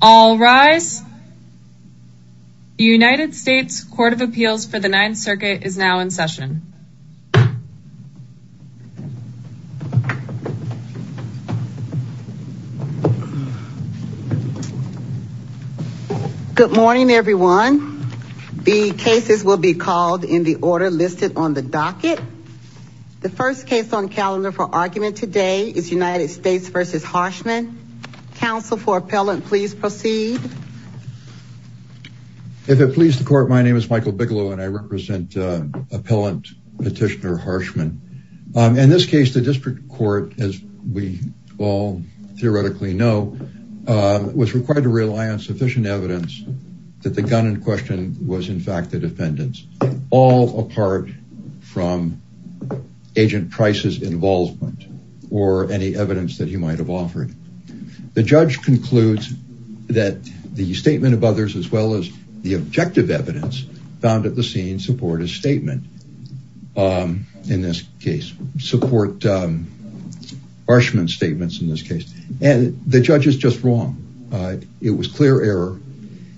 All rise. The United States Court of Appeals for the Ninth Circuit is now in session. Good morning everyone. The cases will be called in the order listed on the docket. The first case on calendar for argument today is United States v. Harshman. Counsel for appellant, please proceed. If it pleases the court, my name is Michael Bigelow and I represent appellant petitioner Harshman. In this case, the district court, as we all theoretically know, was required to rely on sufficient evidence that the gun in question was in fact the defendant's. All apart from agent Price's involvement or any evidence that he might have offered. The judge concludes that the statement of others as well as the objective evidence found at the scene support his statement in this case, support Harshman's statements in this case. And the judge is just wrong. It was clear error.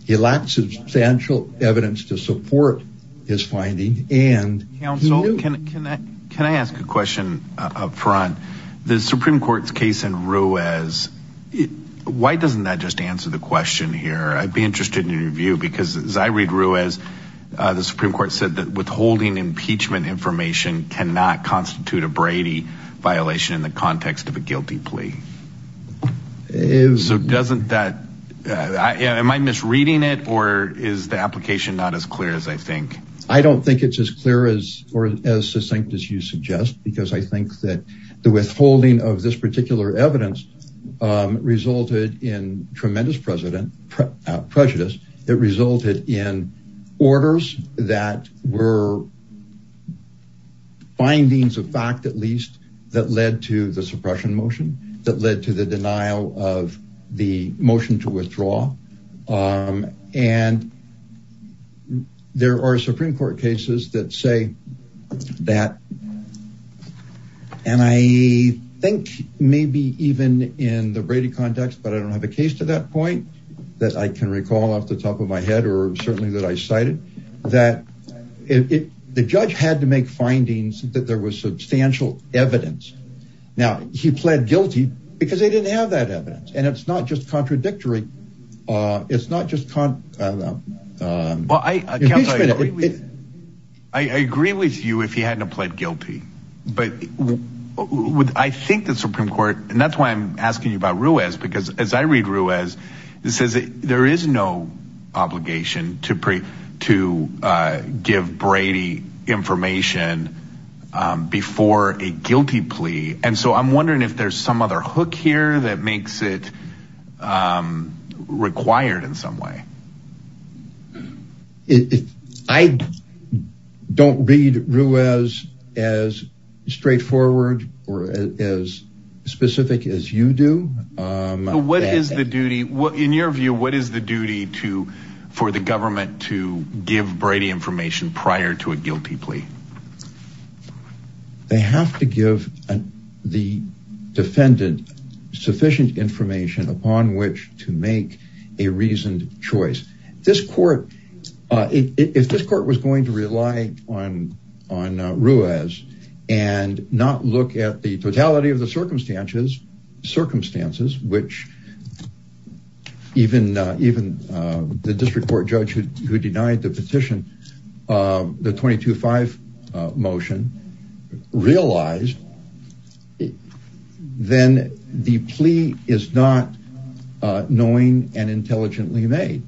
He lacked substantial evidence to support his finding. Counsel, can I ask a question up front? The Supreme Court's case in Ruiz, why doesn't that just answer the question here? I'd be interested in your view because as I read Ruiz, the Supreme Court said that withholding impeachment information cannot constitute a Brady violation in the context of a guilty plea. So doesn't that, am I misreading it or is the application not as clear as I think? I don't think it's as clear as or as succinct as you suggest because I think that the withholding of this particular evidence resulted in tremendous president prejudice. It resulted in orders that were findings of fact, at least that led to the suppression motion that led to the denial of the motion to withdraw. And there are Supreme Court cases that say that. And I think maybe even in the Brady context, but I don't have a case to that point that I can recall off the top of my head or certainly that I cited that the judge had to make findings that there was substantial evidence. Now, he pled guilty because they didn't have that evidence. And it's not just contradictory. It's not just. Well, I agree with you if he hadn't pled guilty. But I think the Supreme Court and that's why I'm asking you about Ruiz, because as I read Ruiz, it says there is no obligation to to give Brady information before a guilty plea. And so I'm wondering if there's some other hook here that makes it required in some way. If I don't read Ruiz as straightforward or as specific as you do, what is the duty in your view? What is the duty to for the government to give Brady information prior to a guilty plea? They have to give the defendant sufficient information upon which to make a reasoned choice. If this court was going to rely on Ruiz and not look at the totality of the circumstances, which even the district court judge who denied the petition, the 22-5 motion, realized, then the plea is not knowing and intelligently made.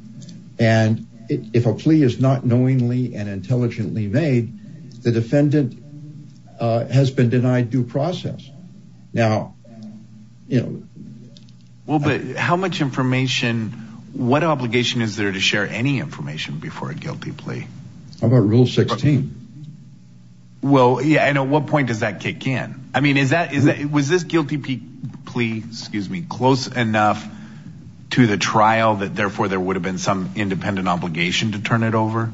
And if a plea is not knowingly and intelligently made, the defendant has been denied due process. Well, but how much information, what obligation is there to share any information before a guilty plea? How about Rule 16? Well, yeah, I know. What point does that kick in? I mean, is that is it was this guilty plea, excuse me, close enough to the trial that therefore there would have been some independent obligation to turn it over?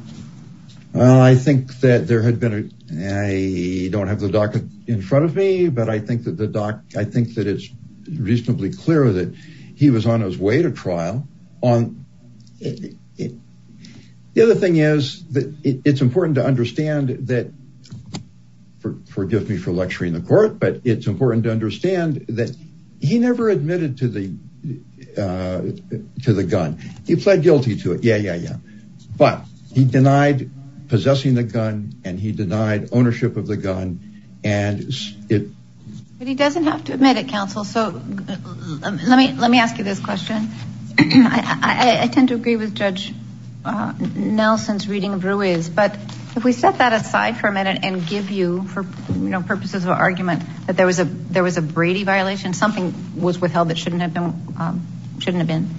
Well, I think that there had been a I don't have the doctor in front of me, but I think that the doc, I think that it's reasonably clear that he was on his way to trial on it. The other thing is that it's important to understand that. Forgive me for lecturing the court, but it's important to understand that he never admitted to the to the gun. He pled guilty to it. Yeah, yeah, yeah. But he denied possessing the gun and he denied ownership of the gun. And he doesn't have to admit it, counsel. So let me let me ask you this question. I tend to agree with Judge Nelson's reading of Ruiz. But if we set that aside for a minute and give you for purposes of argument that there was a there was a Brady violation, something was withheld that shouldn't have been shouldn't have been.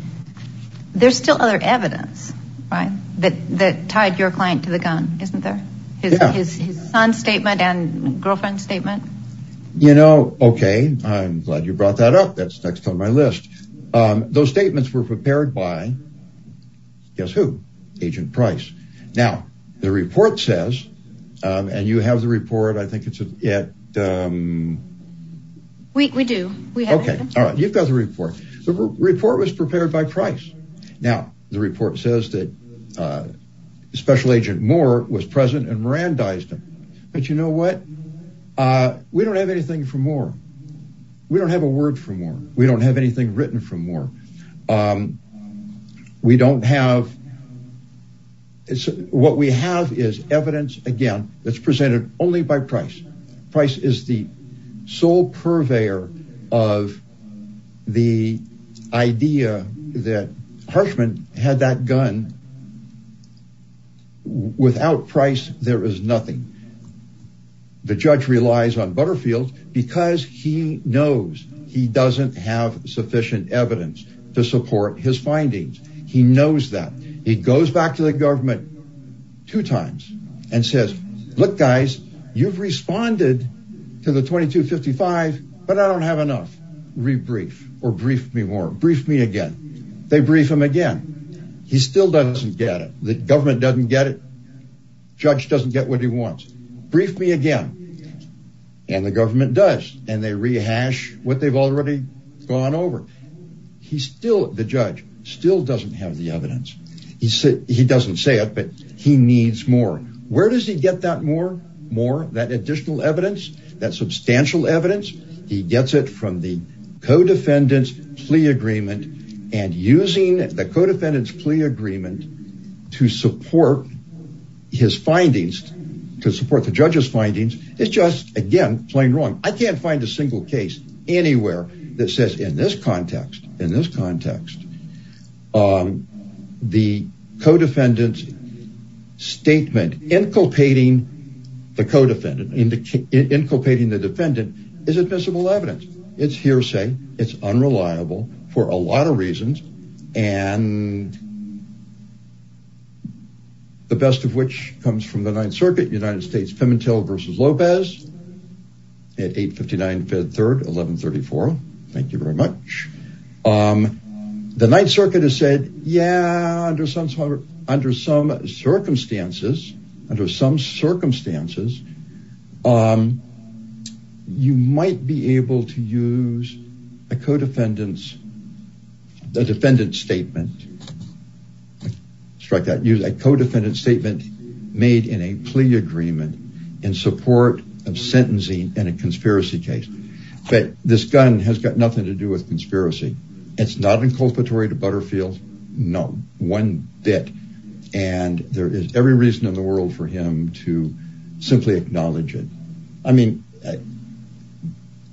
There's still other evidence that that tied your client to the gun, isn't there? His son's statement and girlfriend's statement. You know, OK, I'm glad you brought that up. That's next on my list. Those statements were prepared by guess who? Agent Price. Now, the report says and you have the report. I think it's yet. We do. OK, you've got the report. The report was prepared by price. Now, the report says that Special Agent Moore was present and Miran dies. But you know what? We don't have anything for more. We don't have a word for more. We don't have anything written from more. We don't have. What we have is evidence, again, that's presented only by price. Price is the sole purveyor of the idea that Harshman had that gun. Without price, there is nothing. The judge relies on Butterfield because he knows he doesn't have sufficient evidence. To support his findings. He knows that he goes back to the government. Two times and says, look, guys, you've responded to the 2255, but I don't have enough. Rebrief or brief me more. Brief me again. They brief him again. He still doesn't get it. The government doesn't get it. Judge doesn't get what he wants. Brief me again. And the government does. And they rehash what they've already gone over. He's still the judge still doesn't have the evidence. He said he doesn't say it, but he needs more. Where does he get that more, more, that additional evidence, that substantial evidence? He gets it from the co-defendants plea agreement. And using the co-defendants plea agreement to support his findings to support the judge's findings. It's just, again, plain wrong. I can't find a single case anywhere that says in this context, in this context, the co-defendants statement inculpating the defendant is admissible evidence. It's hearsay. It's unreliable for a lot of reasons. And. The best of which comes from the Ninth Circuit, United States, Pimentel versus Lopez at eight fifty nine, fifth, third, eleven, thirty four. Thank you very much. The Ninth Circuit has said, yeah, under some circumstances, under some circumstances, you might be able to use a co-defendants, a defendant statement. Strike that use a co-defendant statement made in a plea agreement in support of sentencing in a conspiracy case. But this gun has got nothing to do with conspiracy. It's not inculpatory to Butterfield. No one bit. And there is every reason in the world for him to simply acknowledge it. I mean,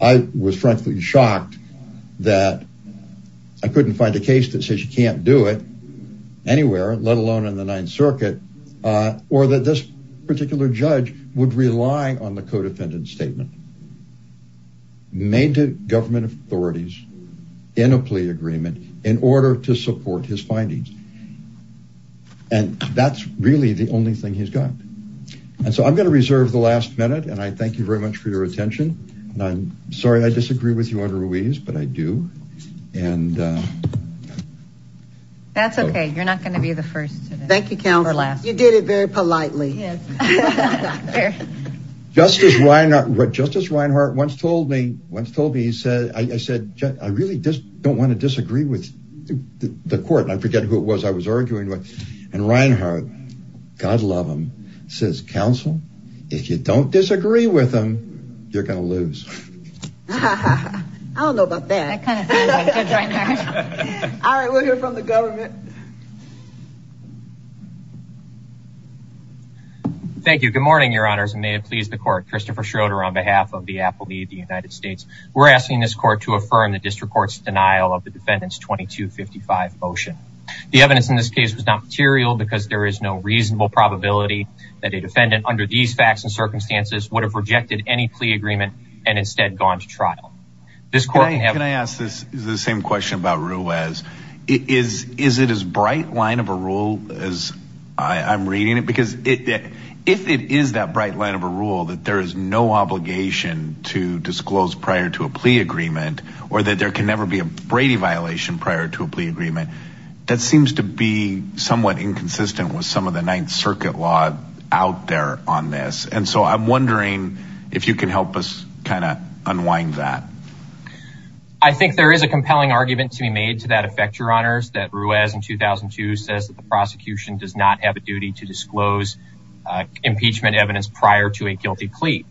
I was frankly shocked that I couldn't find a case that says you can't do it anywhere, let alone in the Ninth Circuit, or that this particular judge would rely on the co-defendant statement. Made to government authorities in a plea agreement in order to support his findings. And that's really the only thing he's got. And so I'm going to reserve the last minute and I thank you very much for your attention. And I'm sorry I disagree with you on Ruiz, but I do. And that's OK. You're not going to be the first. Thank you. You did it very politely. Justice Reinhart, Justice Reinhart once told me, once told me he said, I said, I really just don't want to disagree with the court. I forget who it was I was arguing with. And Reinhart, God love him, says, counsel, if you don't disagree with them, you're going to lose. I don't know about that. All right. We'll hear from the government. Thank you. Good morning, Your Honors, and may it please the court. Christopher Schroeder on behalf of the appellee of the United States. We're asking this court to affirm the district court's denial of the defendant's 2255 motion. The evidence in this case was not material because there is no reasonable probability that a defendant under these facts and circumstances would have rejected any plea agreement and instead gone to trial. This court. Can I ask the same question about Ruiz? Is it as bright line of a rule as I'm reading it? Because if it is that bright line of a rule that there is no obligation to disclose prior to a plea agreement or that there can never be a Brady violation prior to a plea agreement, that seems to be somewhat inconsistent with some of the Ninth Circuit law out there on this. And so I'm wondering if you can help us kind of unwind that. I think there is a compelling argument to be made to that effect, Your Honors, that Ruiz in 2002 says that the prosecution does not have a duty to disclose impeachment evidence prior to a guilty plea.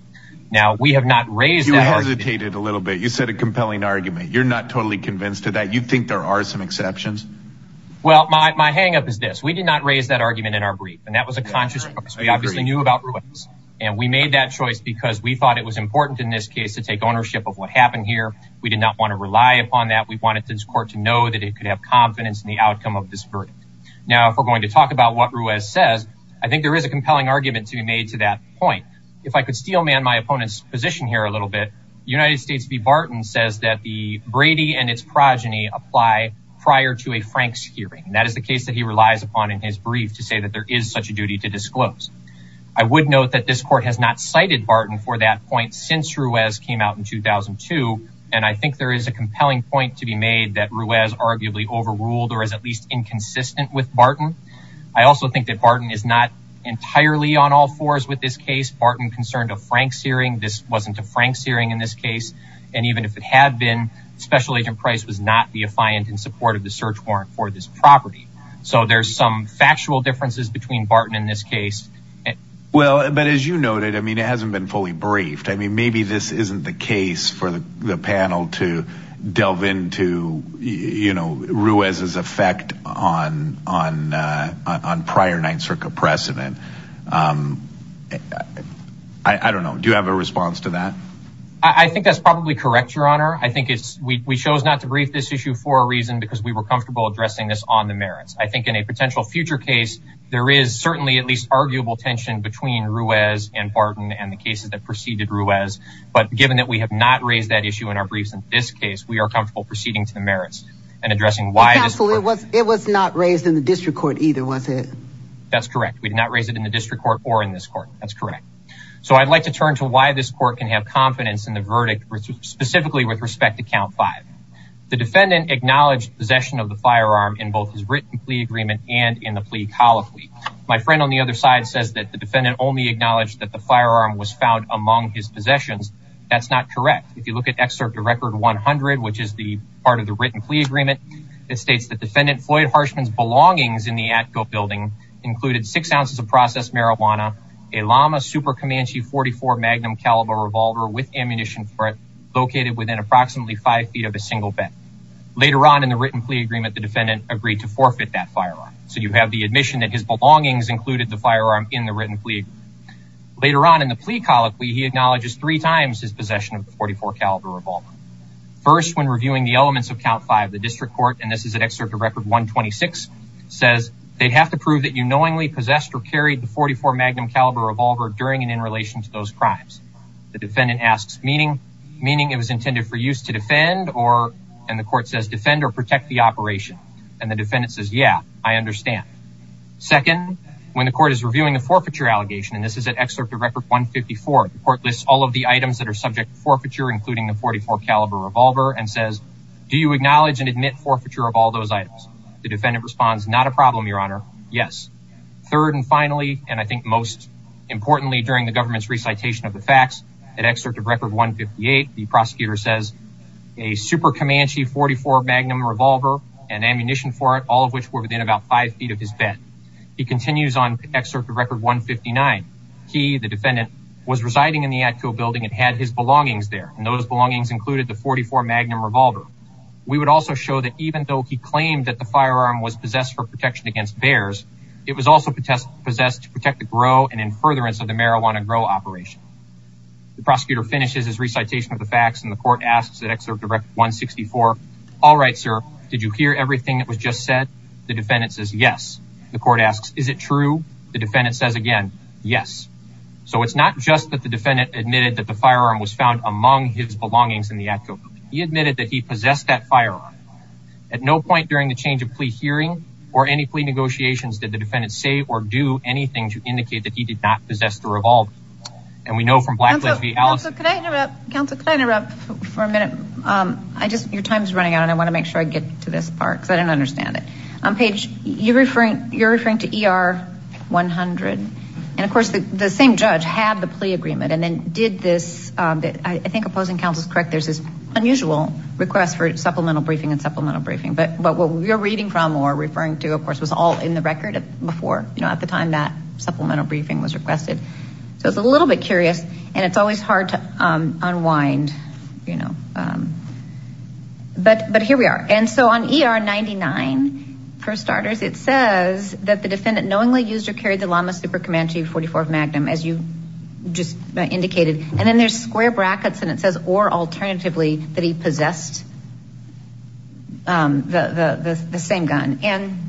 Now, we have not raised that. You hesitated a little bit. You said a compelling argument. You're not totally convinced of that. You think there are some exceptions? Well, my hang up is this. We did not raise that argument in our brief, and that was a conscious choice. We obviously knew about Ruiz, and we made that choice because we thought it was important in this case to take ownership of what happened here. We did not want to rely upon that. We wanted this court to know that it could have confidence in the outcome of this verdict. Now, if we're going to talk about what Ruiz says, I think there is a compelling argument to be made to that point. If I could steelman my opponent's position here a little bit, United States v. Barton says that the Brady and its progeny apply prior to a Franks hearing. That is the case that he relies upon in his brief to say that there is such a duty to disclose. I would note that this court has not cited Barton for that point since Ruiz came out in 2002, and I think there is a compelling point to be made that Ruiz arguably overruled or is at least inconsistent with Barton. I also think that Barton is not entirely on all fours with this case. Barton concerned a Franks hearing. This wasn't a Franks hearing in this case. And even if it had been, Special Agent Price was not the affiant in support of the search warrant for this property. So there's some factual differences between Barton and this case. Well, but as you noted, I mean, it hasn't been fully briefed. I mean, maybe this isn't the case for the panel to delve into, you know, Ruiz's effect on prior Ninth Circuit precedent. I don't know. Do you have a response to that? I think that's probably correct, Your Honor. I think we chose not to brief this issue for a reason because we were comfortable addressing this on the merits. I think in a potential future case, there is certainly at least arguable tension between Ruiz and Barton and the cases that preceded Ruiz. But given that we have not raised that issue in our briefs in this case, we are comfortable proceeding to the merits and addressing why. It was not raised in the district court either, was it? That's correct. We did not raise it in the district court or in this court. That's correct. So I'd like to turn to why this court can have confidence in the verdict, specifically with respect to Count 5. The defendant acknowledged possession of the firearm in both his written plea agreement and in the plea colloquy. My friend on the other side says that the defendant only acknowledged that the firearm was found among his possessions. That's not correct. If you look at Excerpt to Record 100, which is the part of the written plea agreement, it states that Defendant Floyd Harshman's belongings in the Atco building included six ounces of processed marijuana, a Lama Super Comanche .44 Magnum caliber revolver with ammunition for it, located within approximately five feet of a single bed. Later on in the written plea agreement, the defendant agreed to forfeit that firearm. So you have the admission that his belongings included the firearm in the written plea agreement. Later on in the plea colloquy, he acknowledges three times his possession of the .44 caliber revolver. First, when reviewing the elements of Count 5, the district court, and this is at Excerpt to Record 126, says they have to prove that you knowingly possessed or carried the .44 Magnum caliber revolver during and in relation to those crimes. The defendant asks, meaning it was intended for use to defend or, and the court says, defend or protect the operation. And the defendant says, yeah, I understand. Second, when the court is reviewing the forfeiture allegation, and this is at Excerpt to Record 154, the court lists all of the items that are subject to forfeiture, including the .44 caliber revolver, and says, do you acknowledge and admit forfeiture of all those items? Not a problem, Your Honor. Yes. Third and finally, and I think most importantly during the government's recitation of the facts, at Excerpt to Record 158, the prosecutor says, a Super Comanche .44 Magnum revolver, and ammunition for it, all of which were within about five feet of his bed. He continues on Excerpt to Record 159. He, the defendant, was residing in the actual building and had his belongings there, and those belongings included the .44 Magnum revolver. We would also show that even though he claimed that the firearm was possessed for protection against bears, it was also possessed to protect the grow and in furtherance of the marijuana grow operation. The prosecutor finishes his recitation of the facts and the court asks at Excerpt to Record 164, all right, sir, did you hear everything that was just said? The defendant says, yes. The court asks, is it true? The defendant says again, yes. So it's not just that the defendant admitted that the firearm was found among his belongings in the actual building. He admitted that he possessed that firearm. At no point during the change of plea hearing, or any plea negotiations, did the defendant say or do anything to indicate that he did not possess the revolver. And we know from Blackledge v. Allison. Counsel, could I interrupt for a minute? I just, your time is running out and I want to make sure I get to this part because I didn't understand it. Paige, you're referring to ER 100, and of course the same judge had the plea agreement and then did this, I think opposing counsel is correct, there's this unusual request for supplemental briefing and supplemental briefing. But what we're reading from or referring to, of course, was all in the record before, you know, at the time that supplemental briefing was requested. So it's a little bit curious and it's always hard to unwind, you know. But here we are. And so on ER 99, for starters, it says that the defendant knowingly used or carried the Lama Super Comanche 44 Magnum as you just indicated. There's square brackets and it says or alternatively that he possessed the same gun. And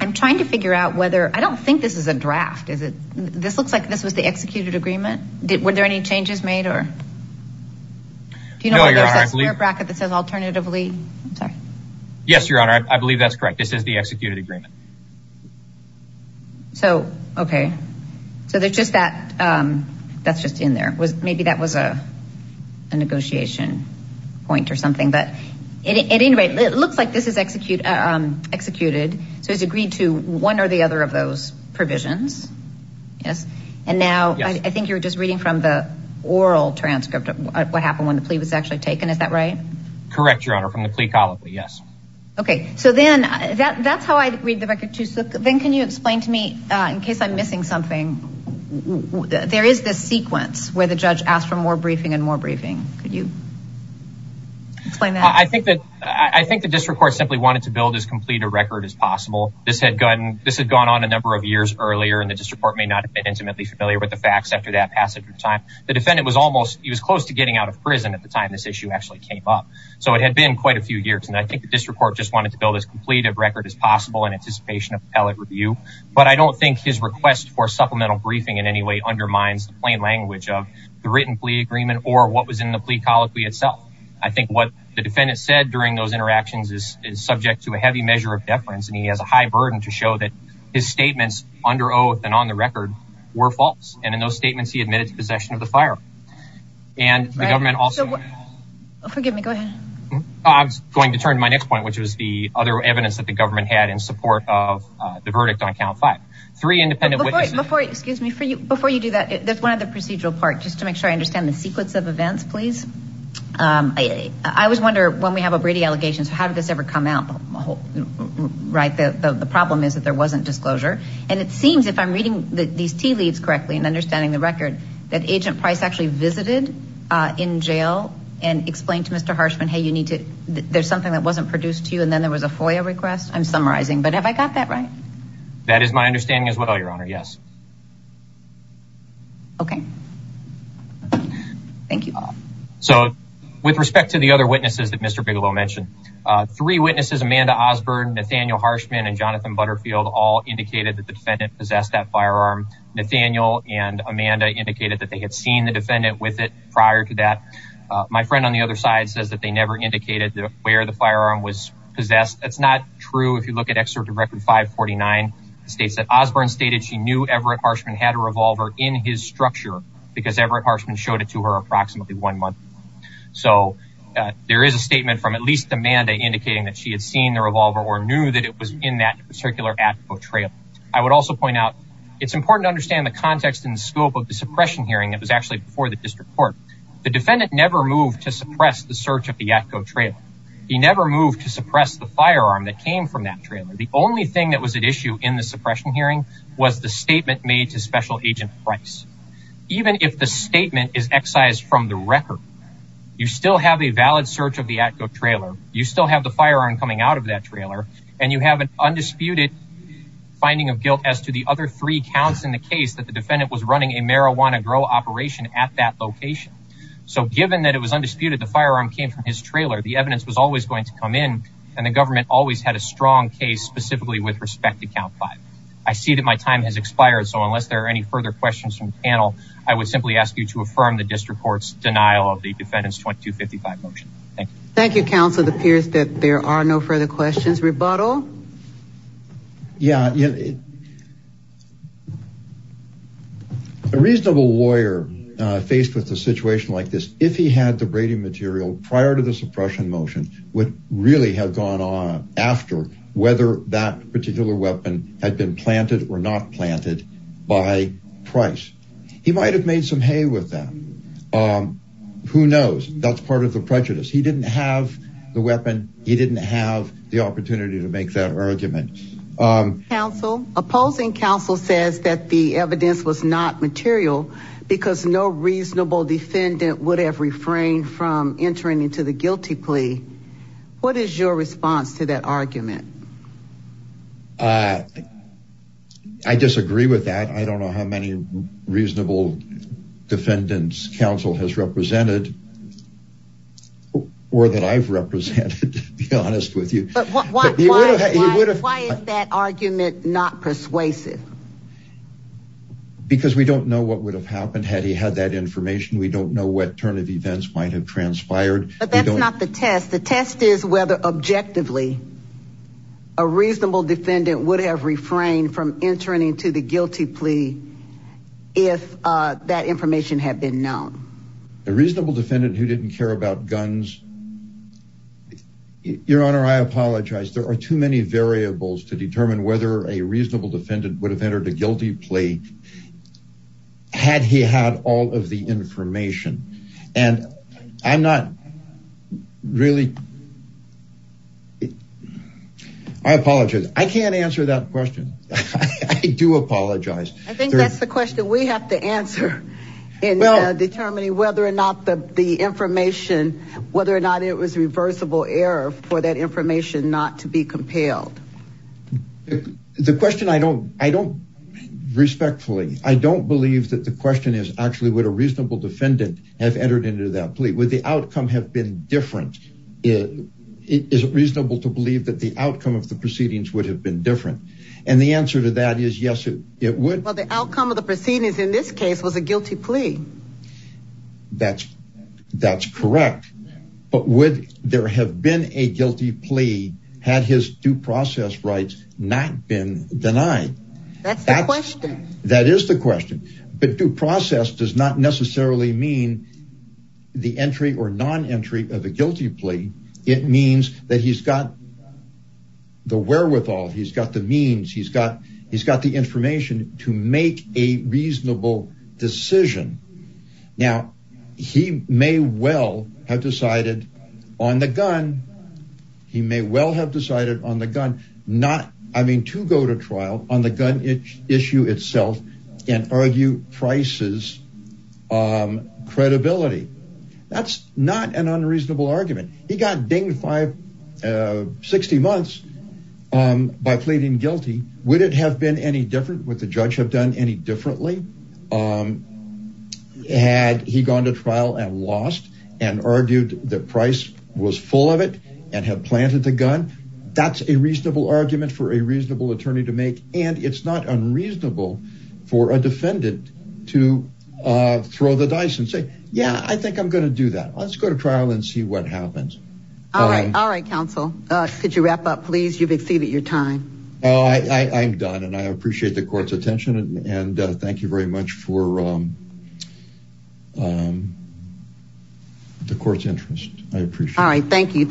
I'm trying to figure out whether, I don't think this is a draft, is it? This looks like this was the executed agreement. Were there any changes made or? Do you know whether there's a square bracket that says alternatively? Yes, your honor, I believe that's correct. This is the executed agreement. So, okay. So there's just that, that's just in there. Maybe that was a negotiation point or something. But at any rate, it looks like this is executed. So it's agreed to one or the other of those provisions. Yes. And now I think you're just reading from the oral transcript of what happened when the plea was actually taken. Is that right? Correct, your honor, from the plea column. Okay, so then that's how I read the record too. So then can you explain to me in case I'm missing something? There is this sequence where the judge asked for more briefing and more briefing. Could you explain that? I think the district court simply wanted to build as complete a record as possible. This had gone on a number of years earlier and the district court may not have been intimately familiar with the facts after that passage of time. The defendant was almost, he was close to getting out of prison at the time this issue actually came up. So it had been quite a few years. And I think the district court just wanted to build as complete a record as possible in anticipation of appellate review. But I don't think his request for supplemental briefing in any way undermines the plain language of the written plea agreement or what was in the plea colloquy itself. I think what the defendant said during those interactions is subject to a heavy measure of deference. And he has a high burden to show that his statements under oath and on the record were false. And in those statements, he admitted to possession of the firearm. And the government also. Forgive me, go ahead. I was going to turn to my next point, which was the other evidence that the government had in support of the verdict on count five. Three independent witnesses. Before you do that, there's one other procedural part, just to make sure I understand the sequence of events, please. I always wonder when we have a Brady allegation, how did this ever come out? Right, the problem is that there wasn't disclosure. And it seems if I'm reading these tea leaves correctly and understanding the record that agent price actually visited in jail and explained to Mr. Harshman, hey, you need to there's something that wasn't produced to you. And then there was a FOIA request. I'm summarizing. But have I got that right? That is my understanding as well, Your Honor. Yes. OK. Thank you all. So with respect to the other witnesses that Mr. Bigelow mentioned, three witnesses, Amanda Osborne, Nathaniel Harshman and Jonathan Butterfield, all indicated that the defendant possessed that firearm. Nathaniel and Amanda indicated that they had seen the defendant with it prior to that. My friend on the other side says that they never indicated where the firearm was possessed. That's not true. If you look at excerpt of record five forty nine states that Osborne stated she knew Everett Harshman had a revolver in his structure because Everett Harshman showed it to her approximately one month. So there is a statement from at least Amanda indicating that she had seen the revolver or knew that it was in that particular Atco trailer. I would also point out it's important to understand the context and scope of the suppression hearing. It was actually before the district court. The defendant never moved to suppress the search of the Atco trailer. He never moved to suppress the firearm that came from that trailer. The only thing that was at issue in the suppression hearing was the statement made to Special Agent Price. Even if the statement is excised from the record, you still have a valid search of the Atco trailer. You still have the firearm coming out of that trailer and you have an undisputed finding of guilt as to the other three counts in the case that the defendant was running a marijuana grow operation at that location. So given that it was undisputed, the firearm came from his trailer. The evidence was always going to come in and the government always had a strong case specifically with respect to count five. I see that my time has expired. So unless there are any further questions from the panel, I would simply ask you to affirm the district court's denial of the defendant's 2255 motion. Thank you, counsel. It appears that there are no further questions. Rebuttal. Yeah. A reasonable lawyer faced with a situation like this, if he had the Brady material prior to the suppression motion, would really have gone on after whether that particular weapon had been planted or not planted by price. He might have made some hay with that. Who knows? That's part of the prejudice. He didn't have the weapon. He didn't have the opportunity to make that argument. Counsel opposing counsel says that the evidence was not material because no reasonable defendant would have refrained from entering into the guilty plea. What is your response to that argument? I disagree with that. I don't know how many reasonable defendants counsel has represented. Or that I've represented, to be honest with you. Why is that argument not persuasive? Because we don't know what would have happened had he had that information. We don't know what turn of events might have transpired. But that's not the test. The test is whether, objectively, a reasonable defendant would have refrained from entering into the guilty plea if that information had been known. A reasonable defendant who didn't care about guns. Your Honor, I apologize. There are too many variables to determine whether a reasonable defendant would have entered a guilty plea had he had all of the information. And I'm not really... I apologize. I can't answer that question. I do apologize. I think that's the question we have to answer in determining whether or not the information, whether or not it was reversible error for that information not to be compelled. The question I don't... Would the outcome have been different? Is it reasonable to believe that the outcome of the proceedings would have been different? And the answer to that is yes, it would. Well, the outcome of the proceedings in this case was a guilty plea. That's correct. But would there have been a guilty plea had his due process rights not been denied? That's the question. That is the question. But due process does not necessarily mean the entry or non-entry of a guilty plea. It means that he's got the wherewithal, he's got the means, he's got the information to make a reasonable decision. Now, he may well have decided on the gun. I mean, to go to trial on the gun issue itself and argue Price's credibility. That's not an unreasonable argument. He got dinged 60 months by pleading guilty. Would it have been any different? Would the judge have done any differently? Had he gone to trial and lost and argued that Price was full of it and had planted the gun? That's a reasonable argument for a reasonable attorney to make. And it's not unreasonable for a defendant to throw the dice and say, yeah, I think I'm going to do that. Let's go to trial and see what happens. All right. All right, counsel. Could you wrap up, please? You've exceeded your time. I'm done. And I appreciate the court's attention. And thank you very much for the court's interest. I appreciate it. All right. Thank you, counsel. Thank you. Thank you.